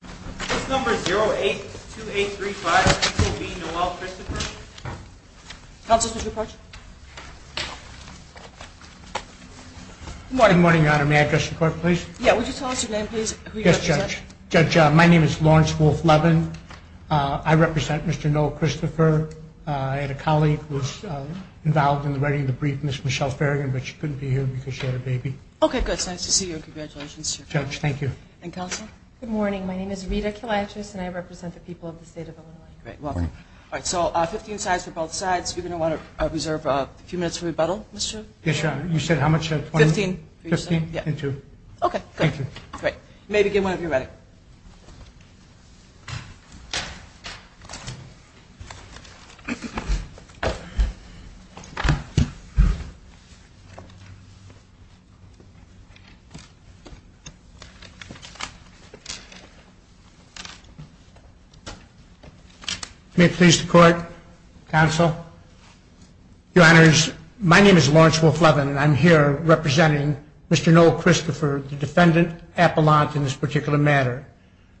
Good morning, Your Honor. May I address the Court, please? Yes, would you tell us your name, please, and who you represent? Judge, my name is Lawrence Wolfe Levin. I represent Mr. Noel Christopher. I had a colleague who was involved in the writing of the brief, Ms. Michelle Ferrigan, but she couldn't be here because she had a baby. Okay, good. It's nice to see you. Congratulations. Judge, thank you. And Counsel? Good morning. My name is Rita Kilatris, and I represent the people of the State of Illinois. Great. Welcome. All right, so 15 sides for both sides. You're going to want to reserve a few minutes for rebuttal, Mr. Yes, Your Honor. You said how much? Fifteen. Okay, good. Thank you. Great. You may begin whenever you're ready. May it please the Court, Counsel? Your Honors, my name is Lawrence Wolfe Levin, and I'm here representing Mr. Noel Christopher, the defendant appellant in this particular matter.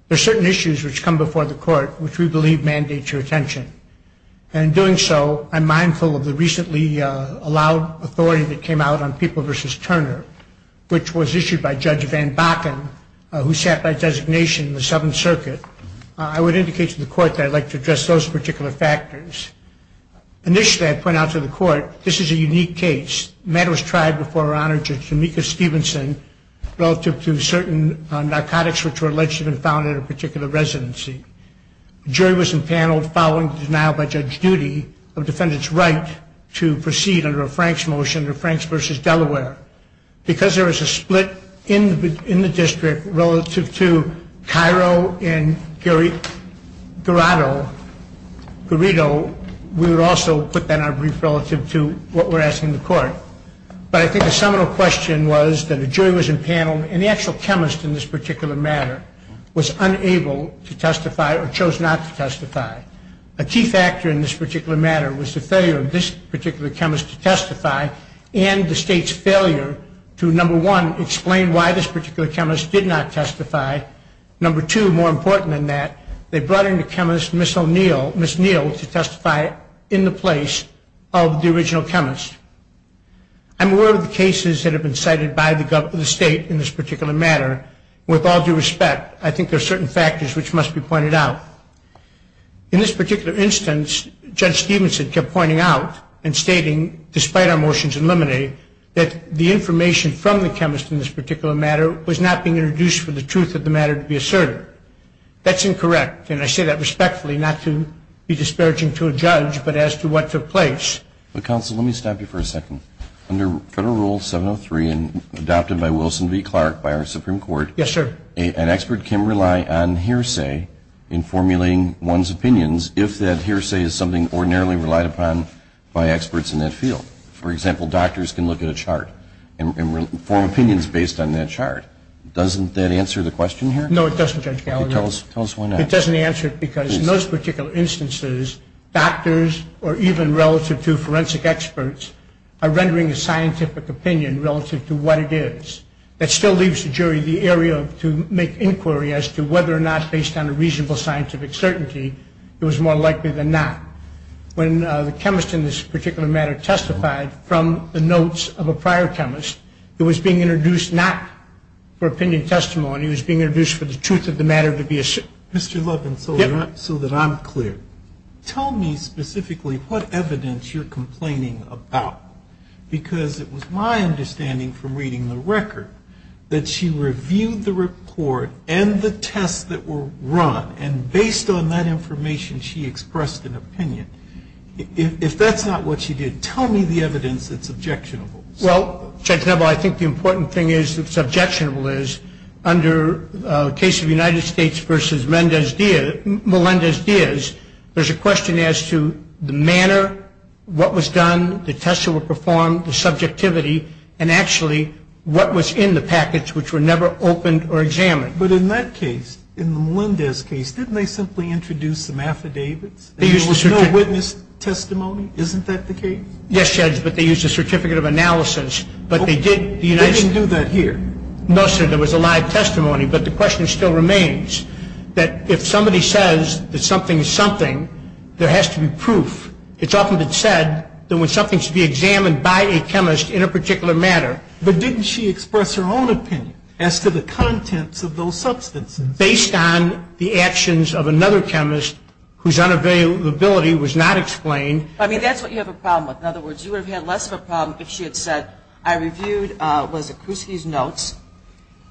There are certain issues which come before the Court which we believe mandate your attention. And in doing so, I'm mindful of the recently allowed authority that came out on People v. Turner, which was issued by Judge Van Bakken, who sat by designation in the Seventh Circuit. I would indicate to the Court that I'd like to address those particular factors. Initially, I point out to the Court, this is a unique case. The matter was tried before Her Honor Judge Jamica Stevenson relative to certain narcotics which were alleged to have been found at a particular residency. The jury was empaneled following the denial by Judge Judy of the defendant's right to proceed under a Franks motion, the Franks v. Delaware. Because there was a split in the district relative to Cairo and Garrido, we would also put that in our brief relative to what we're asking the Court. But I think the seminal question was that a jury was empaneled, and the actual chemist in this particular matter was unable to testify or chose not to testify. A key factor in this particular matter was the failure of this particular chemist to testify and the State's failure to, number one, explain why this particular chemist did not testify. Number two, more important than that, they brought in the chemist, Ms. Neal, to testify in the place of the original chemist. I'm aware of the cases that have been cited by the State in this particular matter. With all due respect, I think there are certain factors which must be pointed out. In this particular instance, Judge Stevenson kept pointing out and stating, despite our motions in limine, that the information from the chemist in this particular matter was not being introduced for the truth of the matter to be asserted. That's incorrect, and I say that respectfully, not to be disparaging to a judge, but as to what took place. But, Counsel, let me stop you for a second. Under Federal Rule 703 and adopted by Wilson v. Clark by our Supreme Court, an expert can rely on hearsay in formulating one's opinions if that hearsay is something ordinarily relied upon by experts in that field. For example, doctors can look at a chart and form opinions based on that chart. Doesn't that answer the question here? No, it doesn't, Judge Gallagher. Tell us why not. It doesn't answer it because in those particular instances, doctors or even relative to forensic experts are rendering a scientific opinion relative to what it is. That still leaves the jury the area to make inquiry as to whether or not, based on a reasonable scientific certainty, it was more likely than not. When the chemist in this particular matter testified from the notes of a prior chemist, it was being introduced not for opinion testimony. It was being introduced for the truth of the matter to be asserted. Mr. Levin, so that I'm clear, tell me specifically what evidence you're complaining about, because it was my understanding from reading the record that she reviewed the report and the tests that were run, and based on that information, she expressed an opinion. If that's not what she did, tell me the evidence that's objectionable. Well, Judge Nebel, I think the important thing that's objectionable is under the case of United States versus Melendez-Diaz, there's a question as to the manner, what was done, the tests that were performed, the subjectivity, and actually what was in the packets which were never opened or examined. But in that case, in the Melendez case, didn't they simply introduce some affidavits? There was no witness testimony. Isn't that the case? Yes, Judge, but they used a certificate of analysis, but they did the United States. They didn't do that here. No, sir, there was a live testimony, but the question still remains, that if somebody says that something is something, there has to be proof. It's often been said that when something should be examined by a chemist in a particular matter. But didn't she express her own opinion as to the contents of those substances? Based on the actions of another chemist, whose unavailability was not explained. I mean, that's what you have a problem with. In other words, you would have had less of a problem if she had said, I reviewed Wasikowski's notes,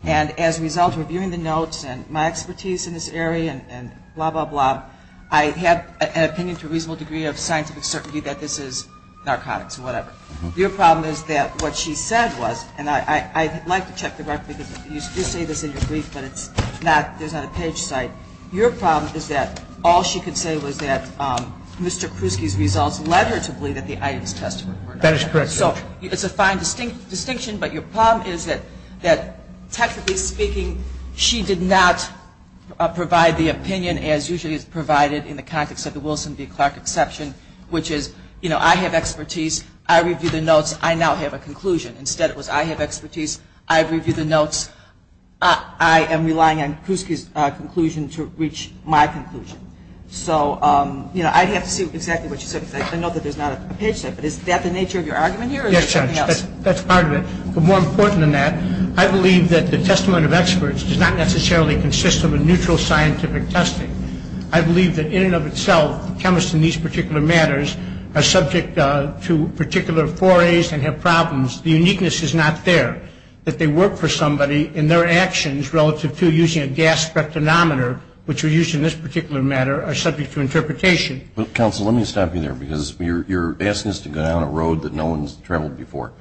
and as a result of reviewing the notes and my expertise in this area and blah, blah, blah, I have an opinion to a reasonable degree of scientific certainty that this is narcotics or whatever. Your problem is that what she said was, and I'd like to check the record, because you say this in your brief, but it's not, there's not a page cite. Your problem is that all she could say was that Mr. Kruski's results led her to believe that the items tested were not. That is correct, Judge. So it's a fine distinction, but your problem is that technically speaking, she did not provide the opinion as usually is provided in the context of the Wilson v. Clark exception, which is, you know, I have expertise, I review the notes, I now have a conclusion. Instead, it was I have expertise, I review the notes, I am relying on Kruski's conclusion to reach my conclusion. So, you know, I'd have to see exactly what she said, because I know that there's not a page cite, but is that the nature of your argument here, or is there something else? Yes, Judge, that's part of it. More important than that, I believe that the testament of experts does not necessarily consist of a neutral scientific testing. I believe that in and of itself, chemists in these particular matters are subject to particular forays and have problems. The uniqueness is not there, that they work for somebody and their actions relative to using a gas spectrometer, which we use in this particular matter, are subject to interpretation. Counsel, let me stop you there, because you're asking us to go down a road that no one's traveled before.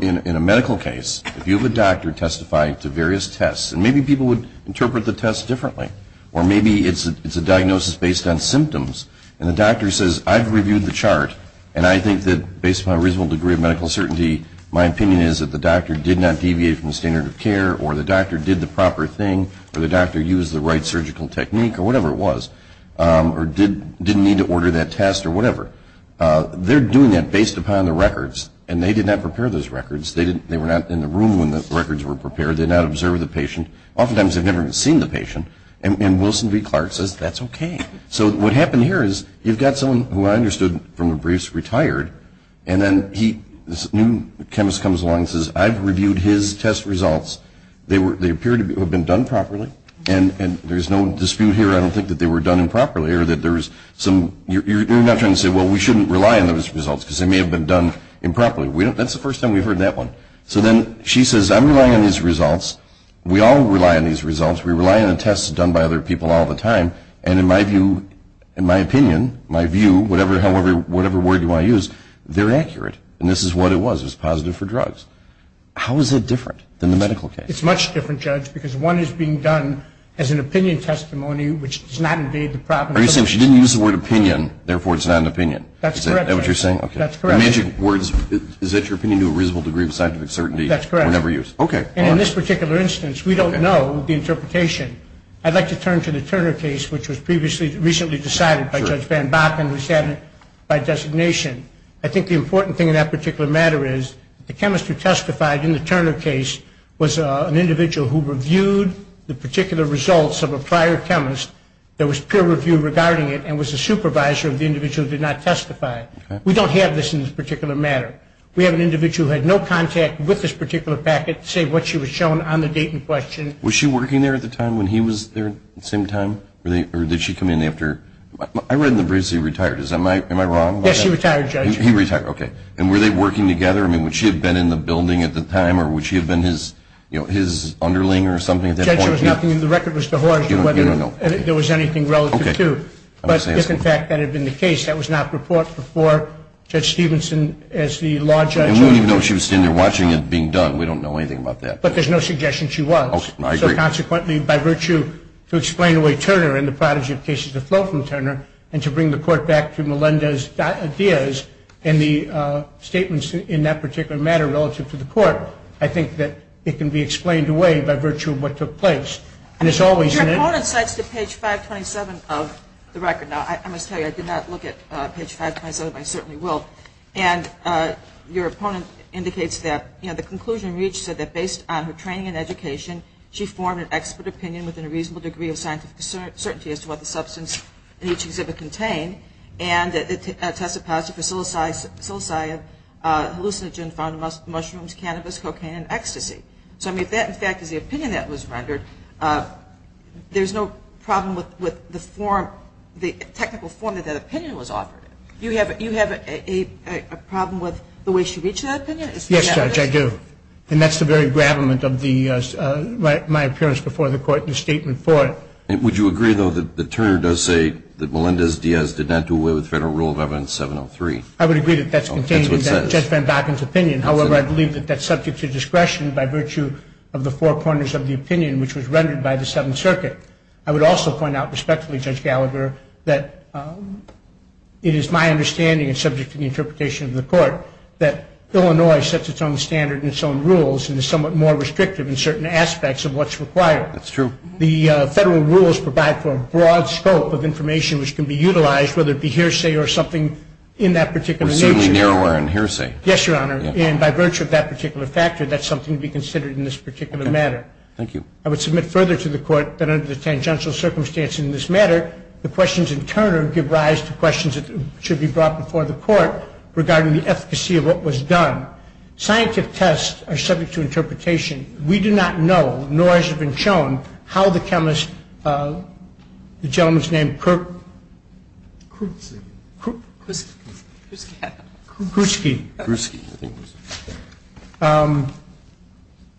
In a medical case, if you have a doctor testify to various tests, and maybe people would interpret the test differently, or maybe it's a diagnosis based on symptoms, and the doctor says, I've reviewed the chart, and I think that based on a reasonable degree of medical certainty, my opinion is that the doctor did not deviate from the standard of care, or the doctor did the proper thing, or the doctor used the right surgical technique, or whatever it was, or didn't need to order that test, or whatever. They're doing that based upon the records, and they did not prepare those records. They were not in the room when the records were prepared. They did not observe the patient. Oftentimes, they've never even seen the patient, and Wilson v. Clark says, that's okay. So what happened here is you've got someone who I understood from the briefs retired, and then this new chemist comes along and says, I've reviewed his test results. They appear to have been done properly, and there's no dispute here, I don't think that they were done improperly, you're not trying to say, well, we shouldn't rely on those results because they may have been done improperly. That's the first time we've heard that one. So then she says, I'm relying on these results. We all rely on these results. We rely on the tests done by other people all the time, and in my view, in my opinion, my view, whatever word you want to use, they're accurate, and this is what it was. It was positive for drugs. How is it different than the medical case? It's much different, Judge, because one is being done as an opinion testimony, which does not invade the problem. Are you saying she didn't use the word opinion, therefore it's not an opinion? That's correct. Is that what you're saying? That's correct. Is that your opinion to a reasonable degree of scientific certainty? That's correct. Okay. And in this particular instance, we don't know the interpretation. I'd like to turn to the Turner case, which was recently decided by Judge Van Bakken, and was added by designation. I think the important thing in that particular matter is the chemist who testified in the Turner case was an individual who reviewed the particular results of a prior chemist that was peer-reviewed regarding it and was a supervisor of the individual who did not testify. We don't have this in this particular matter. We have an individual who had no contact with this particular packet, say what she was shown on the date in question. Was she working there at the time when he was there at the same time? Or did she come in after? I read in the briefs that he retired. Am I wrong about that? Yes, he retired, Judge. He retired. Okay. And were they working together? I mean, would she have been in the building at the time? Or would she have been his, you know, his underling or something at that point? Judge, there was nothing in the record as to whether there was anything relative to. Okay. But if, in fact, that had been the case, that was not reported before Judge Stevenson as the law judge. And we don't even know if she was sitting there watching it being done. We don't know anything about that. But there's no suggestion she was. Okay. I agree. So, consequently, by virtue to explain away Turner and the prodigy of cases that flow from Turner and to bring the court back to Melendez-Diaz and the statements in that particular matter relative to the court, I think that it can be explained away by virtue of what took place. Your opponent cites the page 527 of the record. Now, I must tell you, I did not look at page 527, but I certainly will. And your opponent indicates that, you know, the conclusion reached said that based on her training and education, she formed an expert opinion within a reasonable degree of scientific certainty as to what the substance in each exhibit contained and that it tested positive for psilocybin, hallucinogen found in mushrooms, cannabis, cocaine, and ecstasy. So, I mean, if that, in fact, is the opinion that was rendered, there's no problem with the form, the technical form that that opinion was offered. Do you have a problem with the way she reached that opinion? Yes, Judge, I do. And that's the very gravamen of my appearance before the court in the statement for it. Would you agree, though, that the attorney does say that Melendez-Diaz did not do away with Federal Rule of Evidence 703? I would agree that that's contained in Judge Van Vakken's opinion. However, I believe that that's subject to discretion by virtue of the four corners of the opinion, which was rendered by the Seventh Circuit. I would also point out respectfully, Judge Gallagher, that it is my understanding, and subject to the interpretation of the court, that Illinois sets its own standard and its own rules and is somewhat more restrictive in certain aspects of what's required. That's true. The Federal Rules provide for a broad scope of information which can be utilized, whether it be hearsay or something in that particular nature. Or seemingly narrower in hearsay. Yes, Your Honor. And by virtue of that particular factor, that's something to be considered in this particular matter. Thank you. I would submit further to the court that under the tangential circumstances in this matter, the questions in Turner give rise to questions that should be brought before the court regarding the efficacy of what was done. Scientific tests are subject to interpretation. We do not know, nor has it been shown, how the chemist, the gentleman's name, Kruski,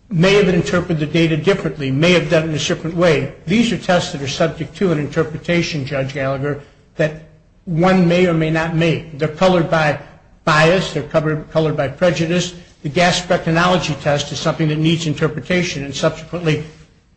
may have interpreted the data differently, may have done it a different way. These are tests that are subject to an interpretation, Judge Gallagher, that one may or may not make. They're colored by bias. They're colored by prejudice. The gas spectrology test is something that needs interpretation, and subsequently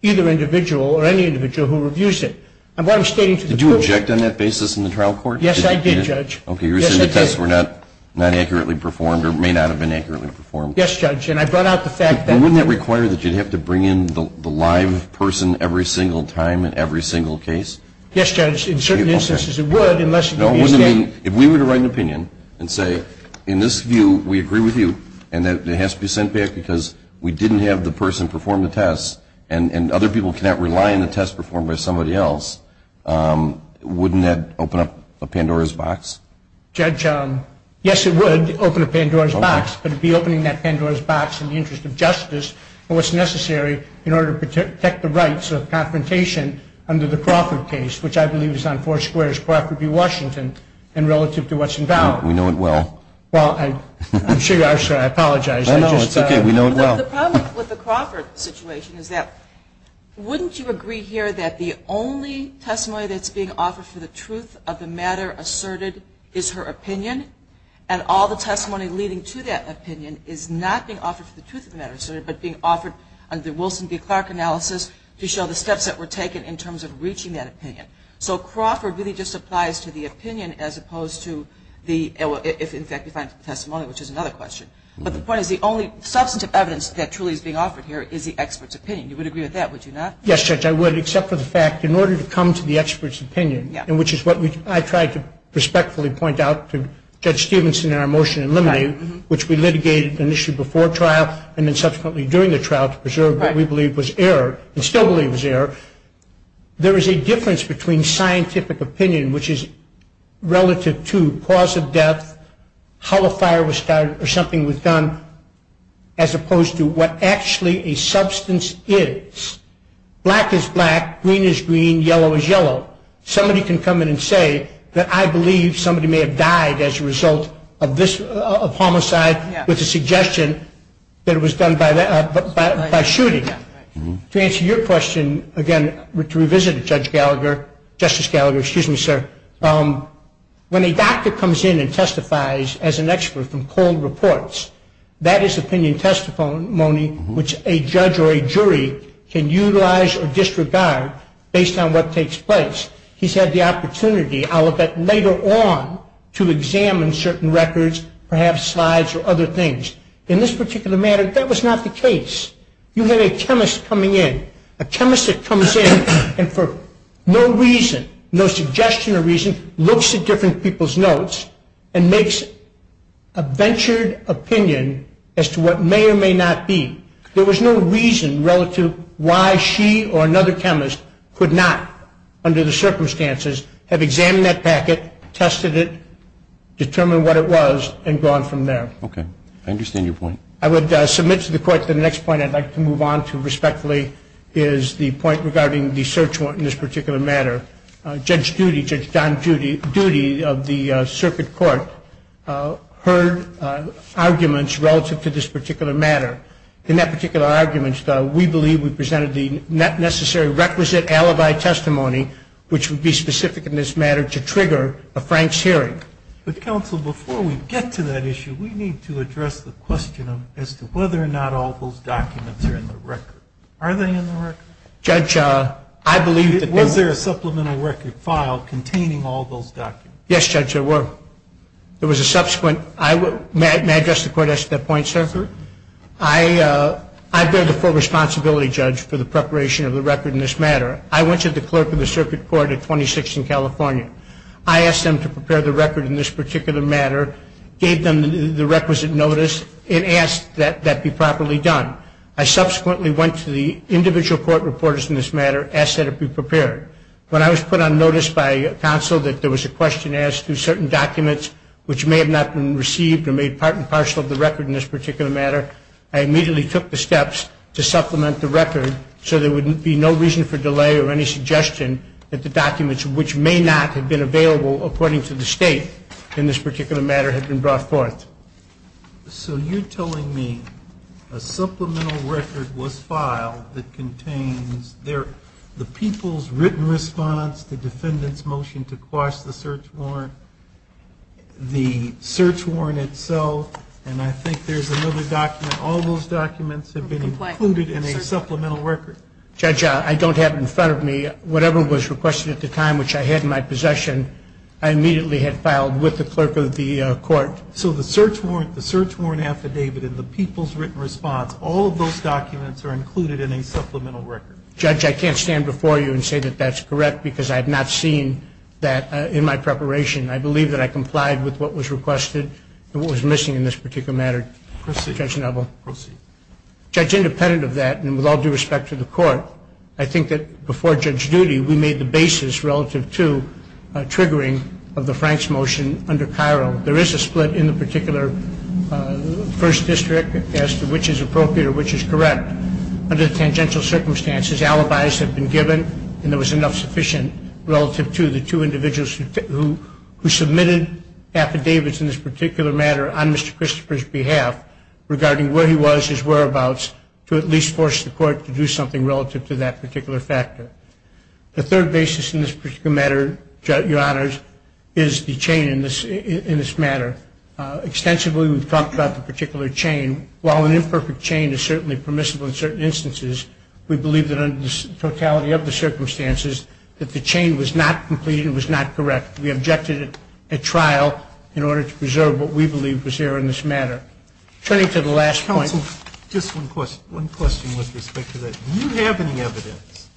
either individual or any individual who reviews it. And what I'm stating to the court. Did you object on that basis in the trial court? Yes, I did, Judge. Okay. You're saying the tests were not accurately performed or may not have been accurately performed. Yes, Judge. And I brought out the fact that. Wouldn't that require that you'd have to bring in the live person every single time in every single case? Yes, Judge. In certain instances it would, unless you gave me a statement. If we were to write an opinion and say in this view we agree with you and it has to be sent back because we didn't have the person perform the test and other people cannot rely on the test performed by somebody else, wouldn't that open up a Pandora's box? Judge, yes, it would open a Pandora's box, but it would be opening that Pandora's box in the interest of justice and what's necessary in order to protect the rights of confrontation under the Crawford case, which I believe is on Four Squares, Crawford v. Washington, in relative to what's invalid. We know it well. Well, I'm sure you are, sir. I apologize. No, no, it's okay. We know it well. The problem with the Crawford situation is that wouldn't you agree here that the only testimony that's being offered for the truth of the matter asserted is her opinion and all the testimony leading to that opinion is not being offered for the truth of the matter asserted but being offered under Wilson v. Clark analysis to show the steps that were taken in terms of reaching that opinion. So Crawford really just applies to the opinion as opposed to the testimony, which is another question. But the point is the only substantive evidence that truly is being offered here is the expert's opinion. You would agree with that, would you not? Yes, Judge, I would, except for the fact in order to come to the expert's opinion, which is what I tried to respectfully point out to Judge Stevenson in our motion in limine, which we litigated initially before trial and then subsequently during the trial to preserve what we believe was error and still believe was error, there is a difference between scientific opinion, which is relative to cause of death, how the fire was started or something was done, as opposed to what actually a substance is. Black is black, green is green, yellow is yellow. Somebody can come in and say that I believe somebody may have died as a result of homicide with the suggestion that it was done by shooting. To answer your question, again, to revisit it, Justice Gallagher, when a doctor comes in and testifies as an expert from cold reports, that is opinion testimony which a judge or a jury can utilize or disregard based on what takes place. He's had the opportunity later on to examine certain records, perhaps slides or other things. In this particular matter, that was not the case. You had a chemist coming in, a chemist that comes in and for no reason, no suggestion or reason, looks at different people's notes and makes a ventured opinion as to what may or may not be. There was no reason relative why she or another chemist could not, under the circumstances, have examined that packet, tested it, determined what it was, and gone from there. Okay. I understand your point. I would submit to the Court that the next point I'd like to move on to respectfully is the point regarding the search warrant in this particular matter. Judge Judy, Judge Don Judy of the circuit court, heard arguments relative to this particular matter. In that particular argument, we believe we presented the necessary requisite alibi testimony, which would be specific in this matter to trigger a Frank's hearing. But, counsel, before we get to that issue, we need to address the question as to whether or not all those documents are in the record. Are they in the record? Judge, I believe that they were. Was there a supplemental record file containing all those documents? Yes, Judge, there were. There was a subsequent. May I address the Court at that point, sir? Certainly. I bear the full responsibility, Judge, for the preparation of the record in this matter. I went to the clerk of the circuit court at 26th and California. I asked them to prepare the record in this particular matter, gave them the requisite notice, and asked that that be properly done. I subsequently went to the individual court reporters in this matter, asked that it be prepared. When I was put on notice by counsel that there was a question as to certain documents, which may have not been received or made part and parcel of the record in this particular matter, I immediately took the steps to supplement the record so there would be no reason for delay or any suggestion that the documents, which may not have been available according to the state in this particular matter, had been brought forth. So you're telling me a supplemental record was filed that contains the people's written response, the defendant's motion to quash the search warrant, the search warrant itself, and I think there's another document. All those documents have been included in a supplemental record. Judge, I don't have it in front of me. Whatever was requested at the time, which I had in my possession, I immediately had filed with the clerk of the court. So the search warrant, the search warrant affidavit, and the people's written response, all of those documents are included in a supplemental record. Judge, I can't stand before you and say that that's correct because I have not seen that in my preparation. I believe that I complied with what was requested and what was missing in this particular matter. Proceed. Judge Neville. Proceed. Judge, independent of that and with all due respect to the court, I think that before Judge Duty we made the basis relative to triggering of the Franks motion under Cairo. There is a split in the particular first district as to which is appropriate or which is correct. Under the tangential circumstances, alibis have been given and there was enough sufficient relative to the two individuals who submitted affidavits in this particular matter on Mr. Christopher's behalf regarding where he was, his whereabouts, to at least force the court to do something relative to that particular factor. The third basis in this particular matter, Your Honors, is the chain in this matter. Extensively we've talked about the particular chain. While an imperfect chain is certainly permissible in certain instances, we believe that under the totality of the circumstances that the chain was not complete and was not correct. We objected at trial in order to preserve what we believe was there in this matter. Turning to the last point. Counsel, just one question. One question with respect to that. Do you have any evidence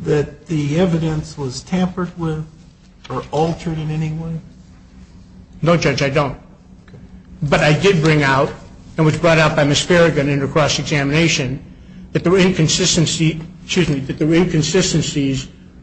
that the evidence was tampered with or altered in any way? No, Judge, I don't. But I did bring out, and it was brought out by Ms. Farragut in her cross-examination, that there were inconsistencies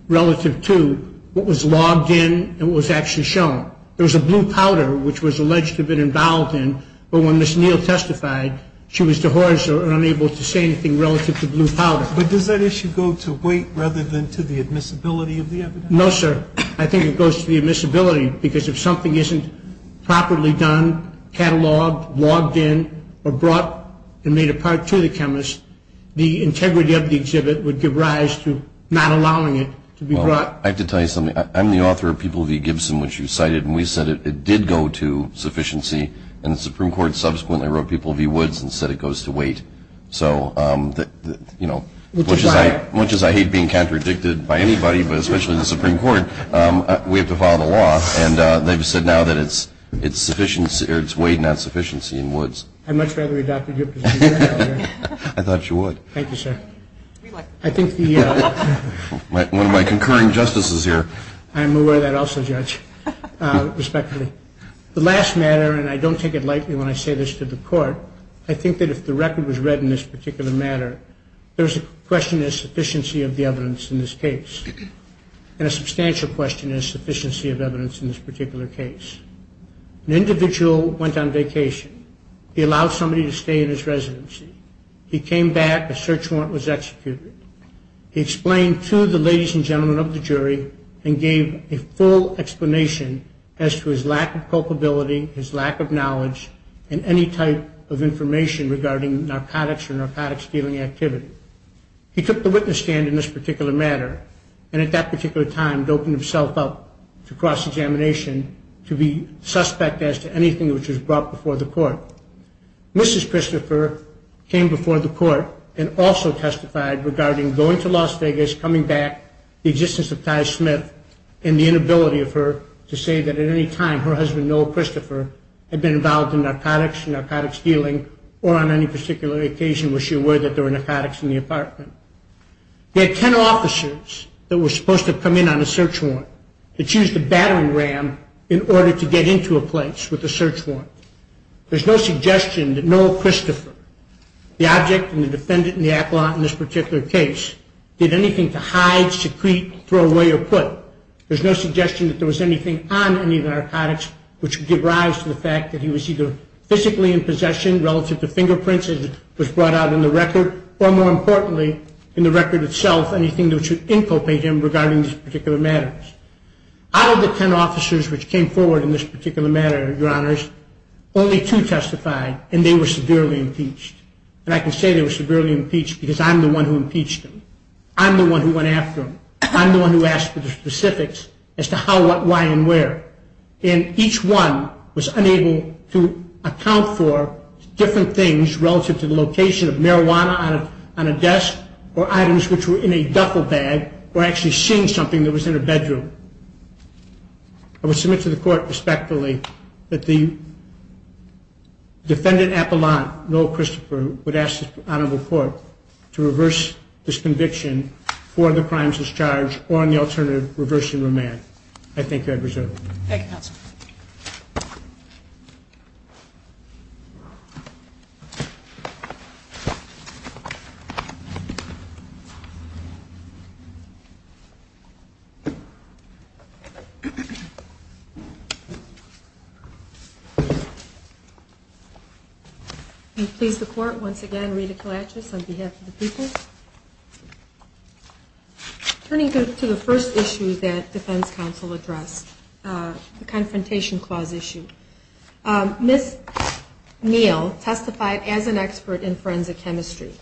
relative to what was logged in and what was actually shown. There was a blue powder which was alleged to have been involved in, but when Ms. Neal testified she was dehorsed or unable to say anything relative to blue powder. But does that issue go to weight rather than to the admissibility of the evidence? No, sir. I think it goes to the admissibility because if something isn't properly done, cataloged, logged in, or brought and made a part to the chemist, the integrity of the exhibit would give rise to not allowing it to be brought. I have to tell you something. I'm the author of People v. Gibson, which you cited, and we said it did go to sufficiency, and the Supreme Court subsequently wrote People v. Woods and said it goes to weight. So, you know, much as I hate being contradicted by anybody, but especially the Supreme Court, we have to follow the law, and they've said now that it's weight, not sufficiency in Woods. I'd much rather we adopted your position. I thought you would. Thank you, sir. I think the – One of my concurring justices here. I'm aware of that also, Judge, respectfully. The last matter, and I don't take it lightly when I say this to the Court, I think that if the record was read in this particular manner, there's a question of sufficiency of the evidence in this case, and a substantial question of sufficiency of evidence in this particular case. An individual went on vacation. He allowed somebody to stay in his residency. He came back. A search warrant was executed. He explained to the ladies and gentlemen of the jury and gave a full explanation as to his lack of culpability, his lack of knowledge, and any type of information regarding narcotics or narcotics-stealing activity. He took the witness stand in this particular matter and at that particular time doped himself up to cross-examination to be suspect as to anything which was brought before the Court. Mrs. Christopher came before the Court and also testified regarding going to Las Vegas, coming back, the existence of Ty Smith, and the inability of her to say that at any time her husband, Noel Christopher, had been involved in narcotics, narcotics-stealing, or on any particular occasion was she aware that there were narcotics in the apartment. There are 10 officers that were supposed to come in on a search warrant that used a battering ram in order to get into a place with a search warrant. There's no suggestion that Noel Christopher, the object and the defendant and the appellant in this particular case, did anything to hide, secrete, throw away, or put. There's no suggestion that there was anything on any of the narcotics which would give rise to the fact that he was either physically in possession relative to fingerprints as was brought out in the record, or more importantly, in the record itself, anything that would inculpate him regarding this particular matter. Out of the 10 officers which came forward in this particular matter, your honors, only two testified, and they were severely impeached. And I can say they were severely impeached because I'm the one who impeached them. I'm the one who went after them. I'm the one who asked for the specifics as to how, what, why, and where. And each one was unable to account for different things relative to the location of marijuana on a desk or items which were in a duffel bag or actually seeing something that was in a bedroom. I would submit to the court respectfully that the defendant appellant, Noel Christopher, would ask the honorable court to reverse this conviction for the crimes he's charged or, in the alternative, reverse the remand. I thank you, Your Honor. I appreciate it. Thank you, counsel. I please the court once again, Rita Kalachis, on behalf of the people. Turning to the first issue that defense counsel addressed, the Confrontation Clause issue. Ms. Neal testified as an expert in forensic chemistry,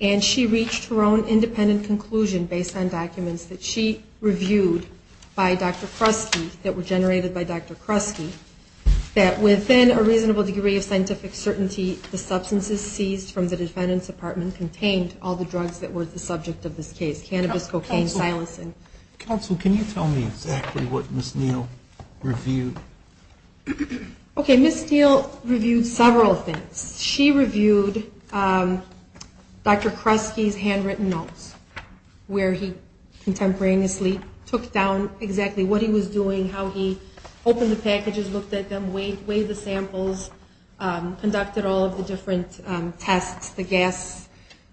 and she reached her own independent conclusion based on documents that she reviewed by Dr. Kresge, that were generated by Dr. Kresge, that within a reasonable degree of scientific certainty, the substances seized from the defendant's apartment contained all the drugs that were the subject of this case, cannabis, cocaine, silencing. Counsel, can you tell me exactly what Ms. Neal reviewed? Okay, Ms. Neal reviewed several things. She reviewed Dr. Kresge's handwritten notes, where he contemporaneously took down exactly what he was doing, how he opened the packages, looked at them, weighed the samples, conducted all of the different tests, the gas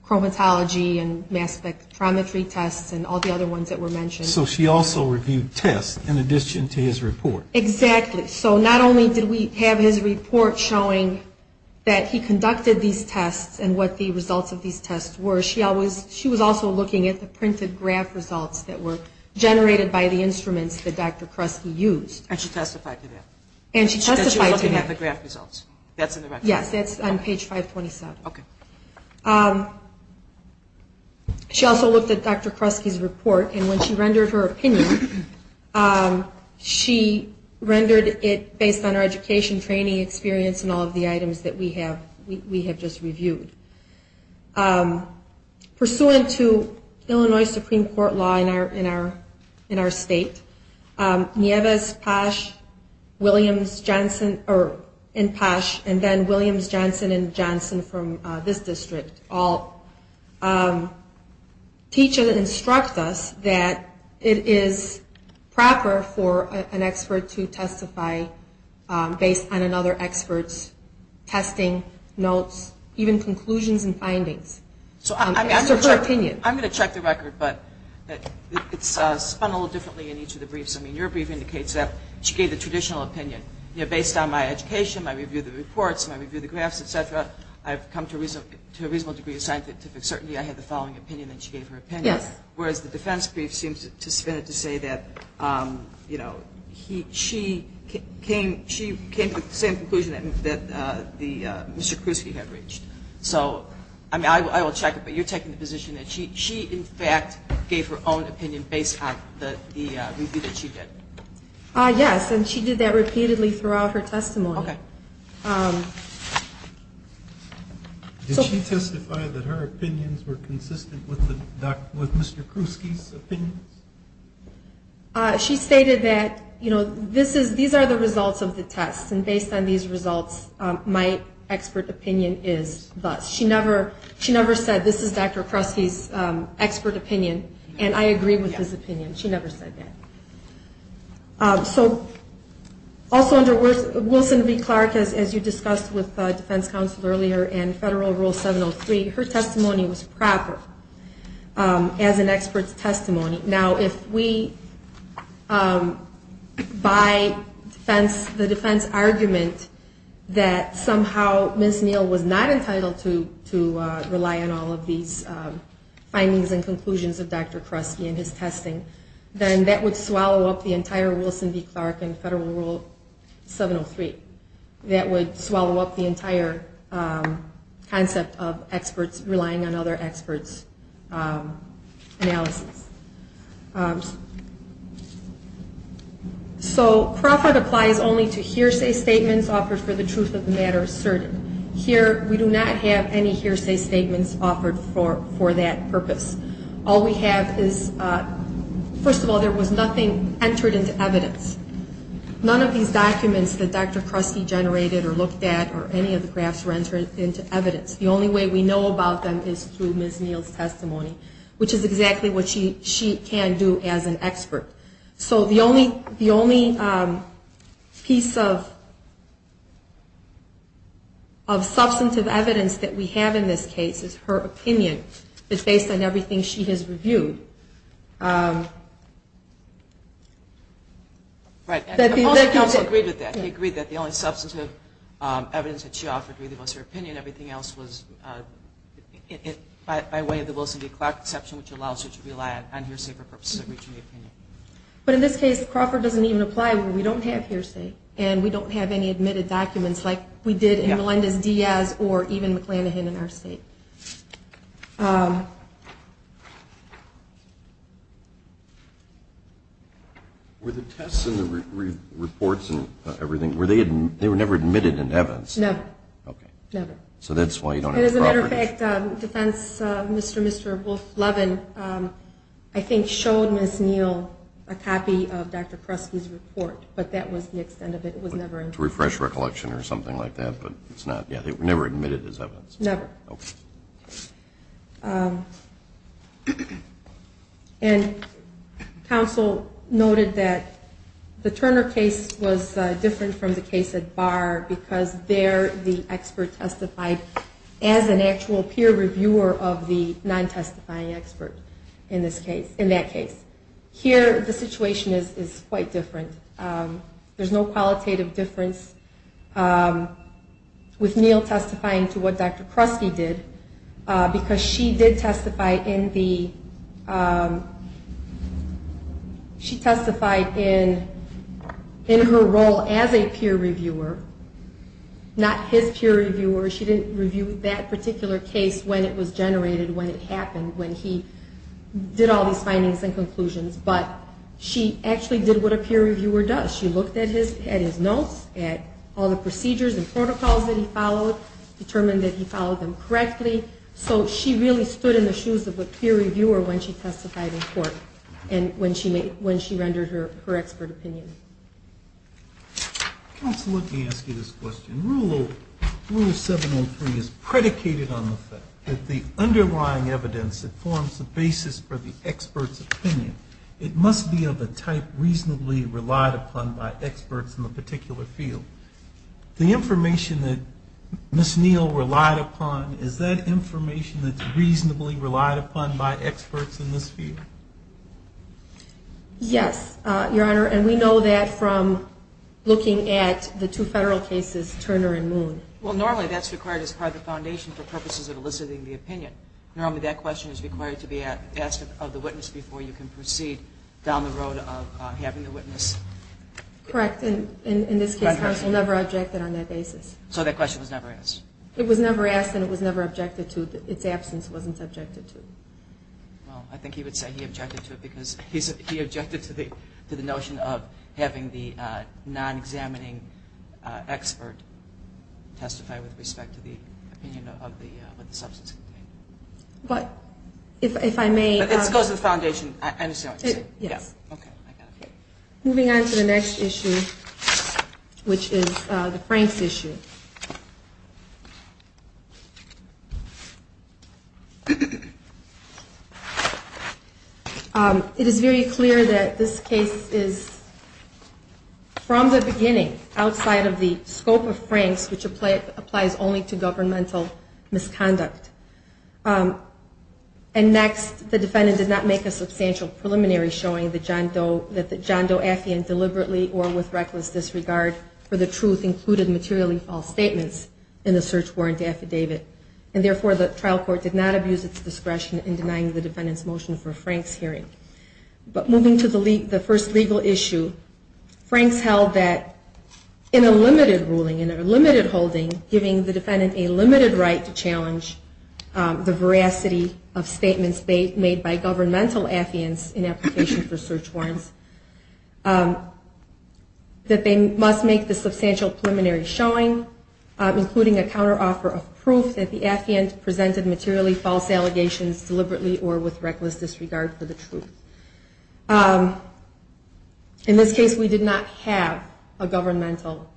chromatology and mass spectrometry tests, and all the other ones that were mentioned. So she also reviewed tests in addition to his report. Exactly. So not only did we have his report showing that he conducted these tests and what the results of these tests were, she was also looking at the printed graph results that were generated by the instruments that Dr. Kresge used. And she testified to that. That you're looking at the graph results? That's in the record? Yes, that's on page 527. Okay. She also looked at Dr. Kresge's report, and when she rendered her opinion, she rendered it based on her education, training, experience, and all of the items that we have just reviewed. Pursuant to Illinois Supreme Court law in our state, Nieves, Posh, Williams, Johnson, and Posh, and then Williams, Johnson, and Johnson from this district all teach and instruct us that it is proper for an expert to testify based on another expert's testing, notes, even conclusions and findings. So I'm going to check the record, but it's spun a little differently in each of the briefs. I mean, your brief indicates that she gave the traditional opinion. You know, based on my education, my review of the reports, my review of the graphs, et cetera, I've come to a reasonable degree of scientific certainty I have the following opinion that she gave her opinion. Yes. Whereas the defense brief seems to spin it to say that, you know, she came to the same conclusion that Mr. Kresge had reached. So, I mean, I will check it, but you're taking the position that she, in fact, gave her own opinion based on the review that she did. Yes, and she did that repeatedly throughout her testimony. Okay. Did she testify that her opinions were consistent with Mr. Kresge's opinions? She stated that, you know, these are the results of the tests, and based on these results, my expert opinion is thus. She never said, this is Dr. Kresge's expert opinion, and I agree with his opinion. She never said that. So also under Wilson v. Clark, as you discussed with defense counsel earlier, and federal rule 703, her testimony was proper as an expert's testimony. Now, if we, by the defense argument, that somehow Ms. Neal was not entitled to rely on all of these findings and conclusions of Dr. Kresge and his testing, then that would swallow up the entire Wilson v. Clark and federal rule 703. That would swallow up the entire concept of experts relying on other experts' analysis. So Crawford applies only to hearsay statements offered for the truth of the matter asserted. Here we do not have any hearsay statements offered for that purpose. All we have is, first of all, there was nothing entered into evidence. None of these documents that Dr. Kresge generated or looked at or any of the graphs were entered into evidence. The only way we know about them is through Ms. Neal's testimony, which is exactly what she can do as an expert. So the only piece of substantive evidence that we have in this case is her opinion that's based on everything she has reviewed. I also agree with that. I agree that the only substantive evidence that she offered was her opinion. Everything else was by way of the Wilson v. Clark exception, which allows her to rely on hearsay for purposes of reaching an opinion. But in this case, Crawford doesn't even apply when we don't have hearsay and we don't have any admitted documents like we did in Melendez-Diaz or even McClanahan in our state. Were the tests and the reports and everything, they were never admitted into evidence? No. Okay. Never. So that's why you don't have the properties. As a matter of fact, Defense Mr. and Mr. Wolff-Levin I think showed Ms. Neal a copy of Dr. Kresge's report, but that was the extent of it. It was never entered. To refresh recollection or something like that, but it's not. Yeah, they were never admitted as evidence. Never. Okay. And counsel noted that the Turner case was different from the case at Barr because there the expert testified as an actual peer reviewer of the non-testifying expert in that case. Here the situation is quite different. There's no qualitative difference with Neal testifying to what Dr. Kresge did because she did testify in her role as a peer reviewer, not his peer reviewer. She didn't review that particular case when it was generated, when it happened, when he did all these findings and conclusions, but she actually did what a peer reviewer does. She looked at his notes, at all the procedures and protocols that he followed, determined that he followed them correctly, so she really stood in the shoes of a peer reviewer when she testified in court and when she rendered her expert opinion. Counsel, let me ask you this question. Rule 703 is predicated on the fact that the underlying evidence that forms the basis for the expert's opinion, it must be of a type reasonably relied upon by experts in the particular field. The information that Ms. Neal relied upon, is that information that's reasonably relied upon by experts in this field? Yes, Your Honor, and we know that from looking at the two federal cases, Turner and Moon. Well, normally that's required as part of the foundation for purposes of eliciting the opinion. Normally that question is required to be asked of the witness before you can proceed down the road of having the witness. Correct, and in this case, counsel never objected on that basis. So that question was never asked? It was never asked and it was never objected to. Its absence wasn't subjected to. Well, I think he would say he objected to it because he objected to the notion of having the non-examining expert testify with respect to the opinion of the substance. But if I may... But this goes to the foundation, I understand what you're saying. Yes. Okay, I got it. Moving on to the next issue, which is the Franks issue. It is very clear that this case is, from the beginning, outside of the scope of Franks, which applies only to governmental misconduct. And next, the defendant did not make a substantial preliminary showing that John Doe Affion deliberately or with reckless disregard for the truth included materially false statements in the search warrant affidavit. And therefore, the trial court did not abuse its discretion in denying the defendant's motion for Franks' hearing. But moving to the first legal issue, Franks held that in a limited ruling, in a limited holding, giving the defendant a limited right to challenge the veracity of statements made by governmental affiants in application for search warrants, that they must make the substantial preliminary showing, including a counteroffer of proof that the affiant presented materially false allegations deliberately or with reckless disregard for the truth. In this case, we did not have a governmental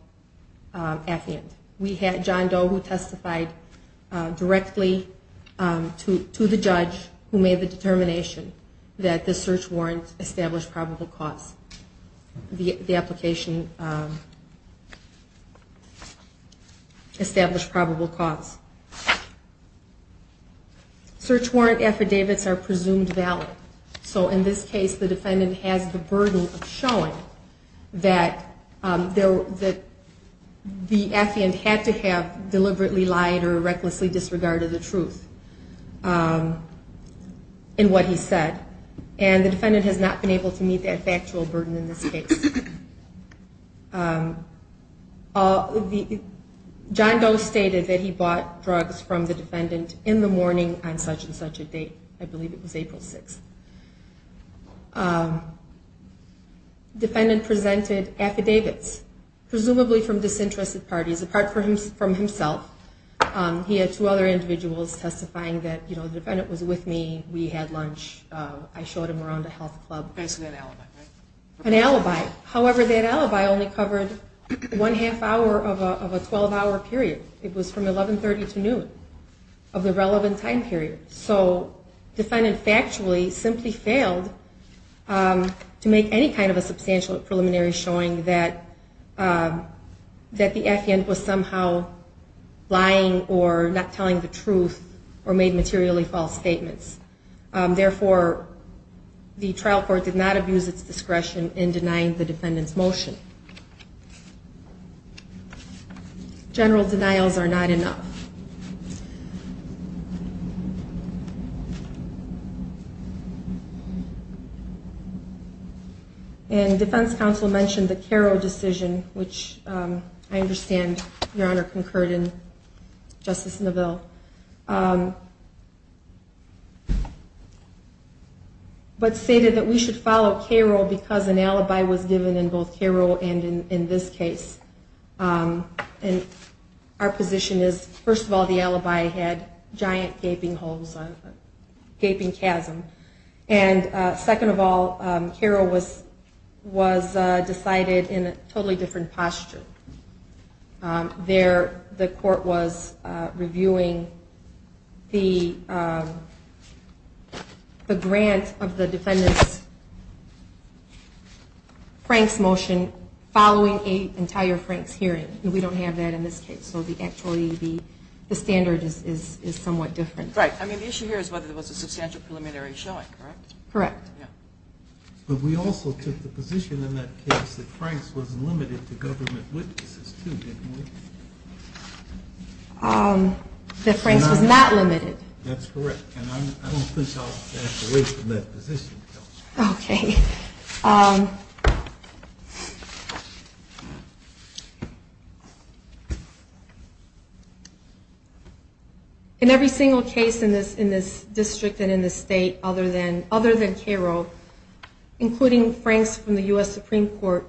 affiant. We had John Doe, who testified directly to the judge who made the determination that the search warrant established probable cause. The application established probable cause. Search warrant affidavits are presumed valid. So in this case, the defendant has the burden of showing that the affiant had to have deliberately lied or recklessly disregarded the truth in what he said. And the defendant has not been able to meet that factual burden in this case. John Doe stated that he bought drugs from the defendant in the morning on such and such a date. I believe it was April 6th. Defendant presented affidavits, presumably from disinterested parties, apart from himself. He had two other individuals testifying that, you know, the defendant was with me, we had lunch, I showed him around a health club. That's an alibi, right? An alibi. However, that alibi only covered one half hour of a 12-hour period. It was from 1130 to noon of the relevant time period. So defendant factually simply failed to make any kind of a substantial preliminary showing that the affiant was somehow lying or not telling the truth or made materially false statements. Therefore, the trial court did not abuse its discretion in denying the defendant's motion. General denials are not enough. And defense counsel mentioned the Cairo decision, which I understand Your Honor concurred in Justice Neville, but stated that we should follow Cairo because an alibi was given in both Cairo and in this case. And our position is, first of all, the alibi had giant gaping holes, a gaping chasm. And second of all, Cairo was decided in a totally different posture. There the court was reviewing the grant of the defendant's Frank's motion following an entire Frank's hearing. And we don't have that in this case. So actually the standard is somewhat different. Right. I mean the issue here is whether there was a substantial preliminary showing, correct? Correct. But we also took the position in that case that Frank's was limited to government witnesses too, didn't we? That Frank's was not limited. That's correct. And I don't think I'll back away from that position. Okay. In every single case in this district and in this state other than Cairo, including Frank's from the U.S. Supreme Court,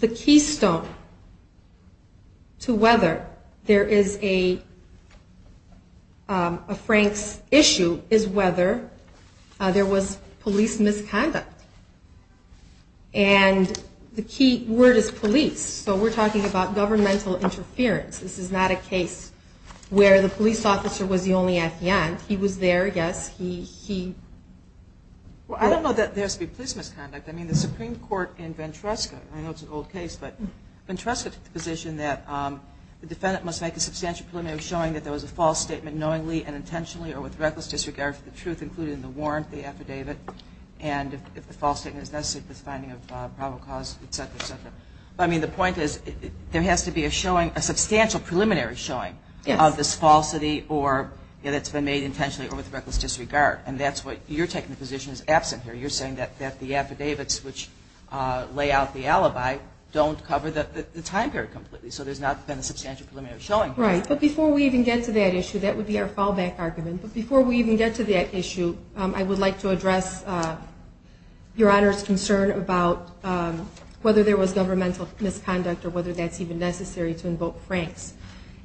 the keystone to whether there is a Frank's issue is whether there was police misconduct. And the key word is police. So we're talking about governmental interference. This is not a case where the police officer was the only at the end. He was there, yes. He... Well, I don't know that there has to be police misconduct. I mean the Supreme Court in Ventresca, I know it's an old case, but Ventresca took the position that the defendant must make a substantial preliminary showing that there was a false statement knowingly and intentionally or with reckless disregard for the truth included in the warrant, the affidavit. And if the false statement is necessary, the finding of probable cause, et cetera, et cetera. But I mean the point is there has to be a showing, a substantial preliminary showing of this falsity or that's been made intentionally or with reckless disregard. And that's what you're taking the position is absent here. You're saying that the affidavits which lay out the alibi don't cover the time period completely. So there's not been a substantial preliminary showing. Right. But before we even get to that issue, that would be our fallback argument. But before we even get to that issue, I would like to address Your Honor's concern about whether there was governmental misconduct or whether that's even necessary to invoke Franks.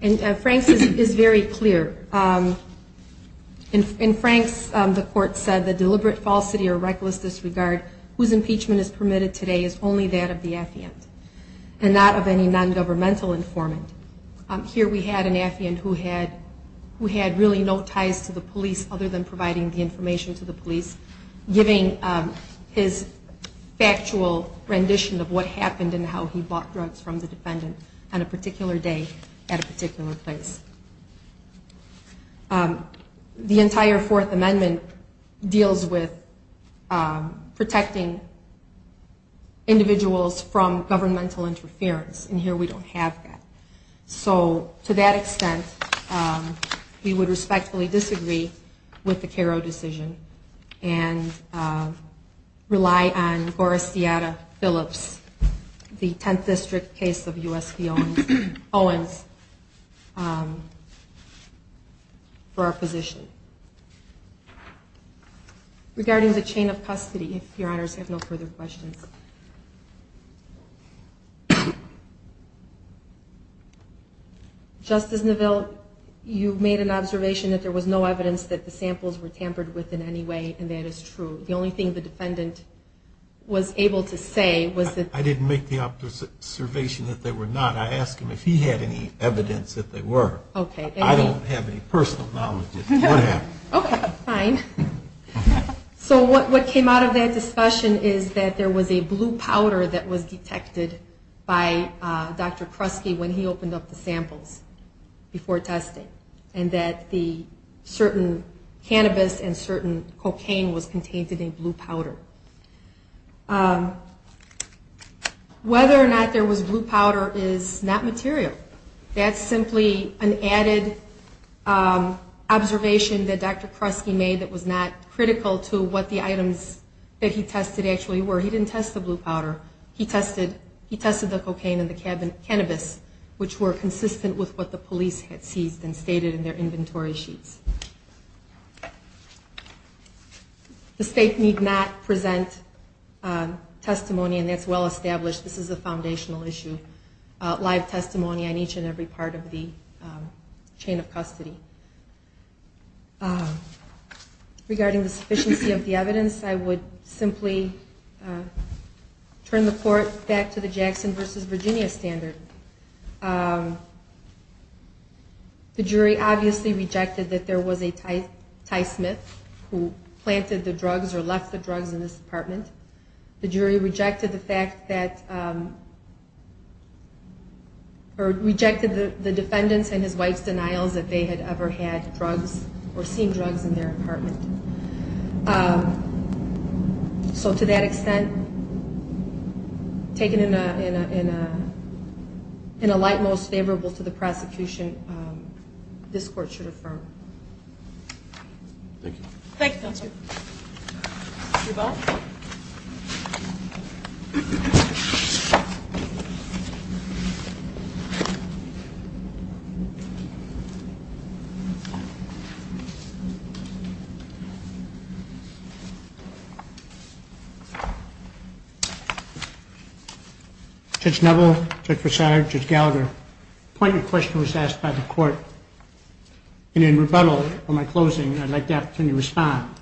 And Franks is very clear. In Franks, the court said the deliberate falsity or reckless disregard whose impeachment is permitted today is only that of the affiant and not of any nongovernmental informant. Here we had an affiant who had really no ties to the police other than providing the information to the police, giving his factual rendition of what happened and how he bought drugs from the defendant on a particular day at a particular place. The entire Fourth Amendment deals with protecting individuals from governmental interference and here we don't have that. So to that extent, we would respectfully disagree with the Karo decision and rely on Gora Steata Phillips, the 10th District case of U.S.P. Owens, for our position. Regarding the chain of custody, if Your Honors have no further questions. Justice Neville, you made an observation that there was no evidence that the samples were tampered with in any way and that is true. The only thing the defendant was able to say was that... I didn't make the observation that they were not. I asked him if he had any evidence that they were. I don't have any personal knowledge of what happened. Okay, fine. So what came out of that discussion is that there was a blue powder that was detected by Dr. Kresge when he opened up the samples before testing and that the certain cannabis and certain cocaine was contained in a blue powder. Whether or not there was blue powder is not material. That's simply an added observation that Dr. Kresge made that was not critical to what the items that he tested actually were. He didn't test the blue powder. He tested the cocaine and the cannabis, which were consistent with what the police had seized and stated in their inventory sheets. The State need not present testimony and that's well established. This is a foundational issue, live testimony on each and every part of the chain of custody. Regarding the sufficiency of the evidence, I would simply turn the court back to the Jackson v. Virginia standard. The jury obviously rejected that there was a tie smith who planted the drugs or left the drugs in this department. The jury rejected the fact that, or rejected the defendant's and his wife's denials that they had ever had drugs or seen drugs in their apartment. So to that extent, taken in a light most favorable to the prosecution, this court should affirm. Thank you. Judge Neville, Judge Broussard, Judge Gallagher, your question was asked by the court. And in rebuttal for my closing, I'd like to have the opportunity to respond.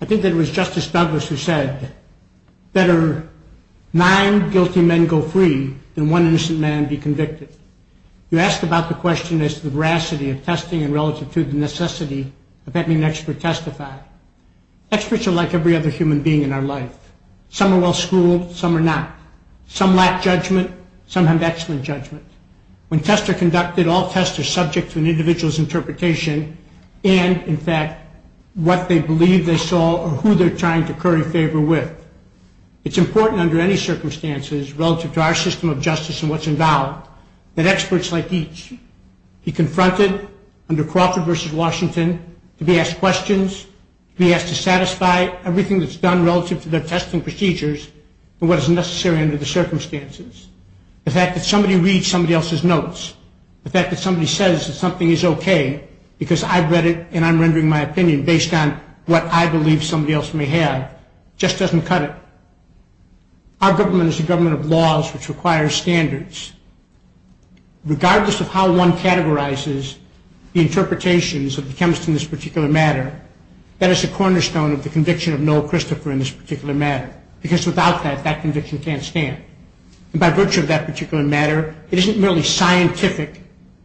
I think that it was Justice Douglas who said, better nine guilty men go free than one innocent man be convicted. You asked about the question as to the veracity of testing in relative to the necessity of having an expert testify. Experts are like every other human being in our life. Some are well schooled, some are not. Some lack judgment, some have excellent judgment. When tests are conducted, all tests are subject to an individual's interpretation and, in fact, what they believe they saw or who they're trying to curry favor with. It's important under any circumstances relative to our system of justice and what's involved that experts like each be confronted under Crawford v. Washington, to be asked questions, to be asked to satisfy everything that's done relative to their testing procedures and what is necessary under the circumstances. The fact that somebody reads somebody else's notes, the fact that somebody says that something is okay because I've read it and I'm rendering my opinion based on what I believe somebody else may have, just doesn't cut it. Our government is a government of laws which require standards. Regardless of how one categorizes the interpretations of the chemists in this particular matter, that is a cornerstone of the conviction of Noel Christopher in this particular matter, because without that, that conviction can't stand. And by virtue of that particular matter, it isn't merely scientific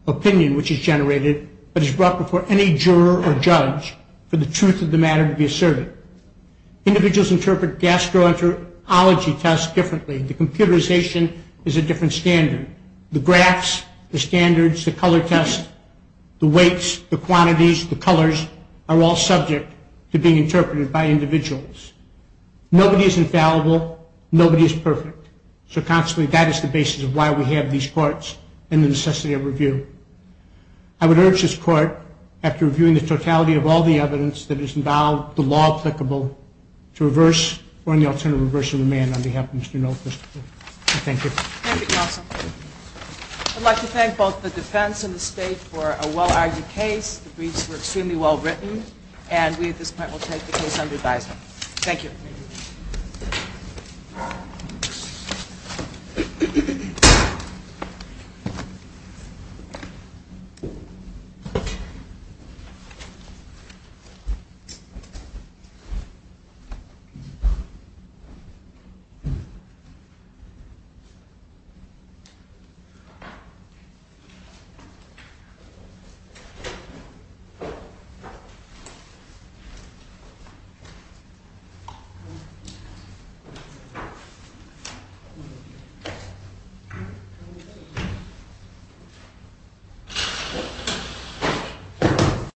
opinion which is generated, but is brought before any juror or judge for the truth of the matter to be asserted. Individuals interpret gastroenterology tests differently, the computerization is a different standard. The graphs, the standards, the color test, the weights, the quantities, the colors are all subject to being interpreted by individuals. Nobody is infallible, nobody is perfect. So consequently, that is the basis of why we have these courts and the necessity of review. I would urge this court, after reviewing the totality of all the evidence that is involved, the law applicable, to reverse or in the alternative reverse the demand on behalf of Mr. Noel Christopher. Thank you. I'd like to thank both the defense and the state for a well-argued case. The briefs were extremely well-written. And we at this point will take the case under advisory. Thank you. Thank you.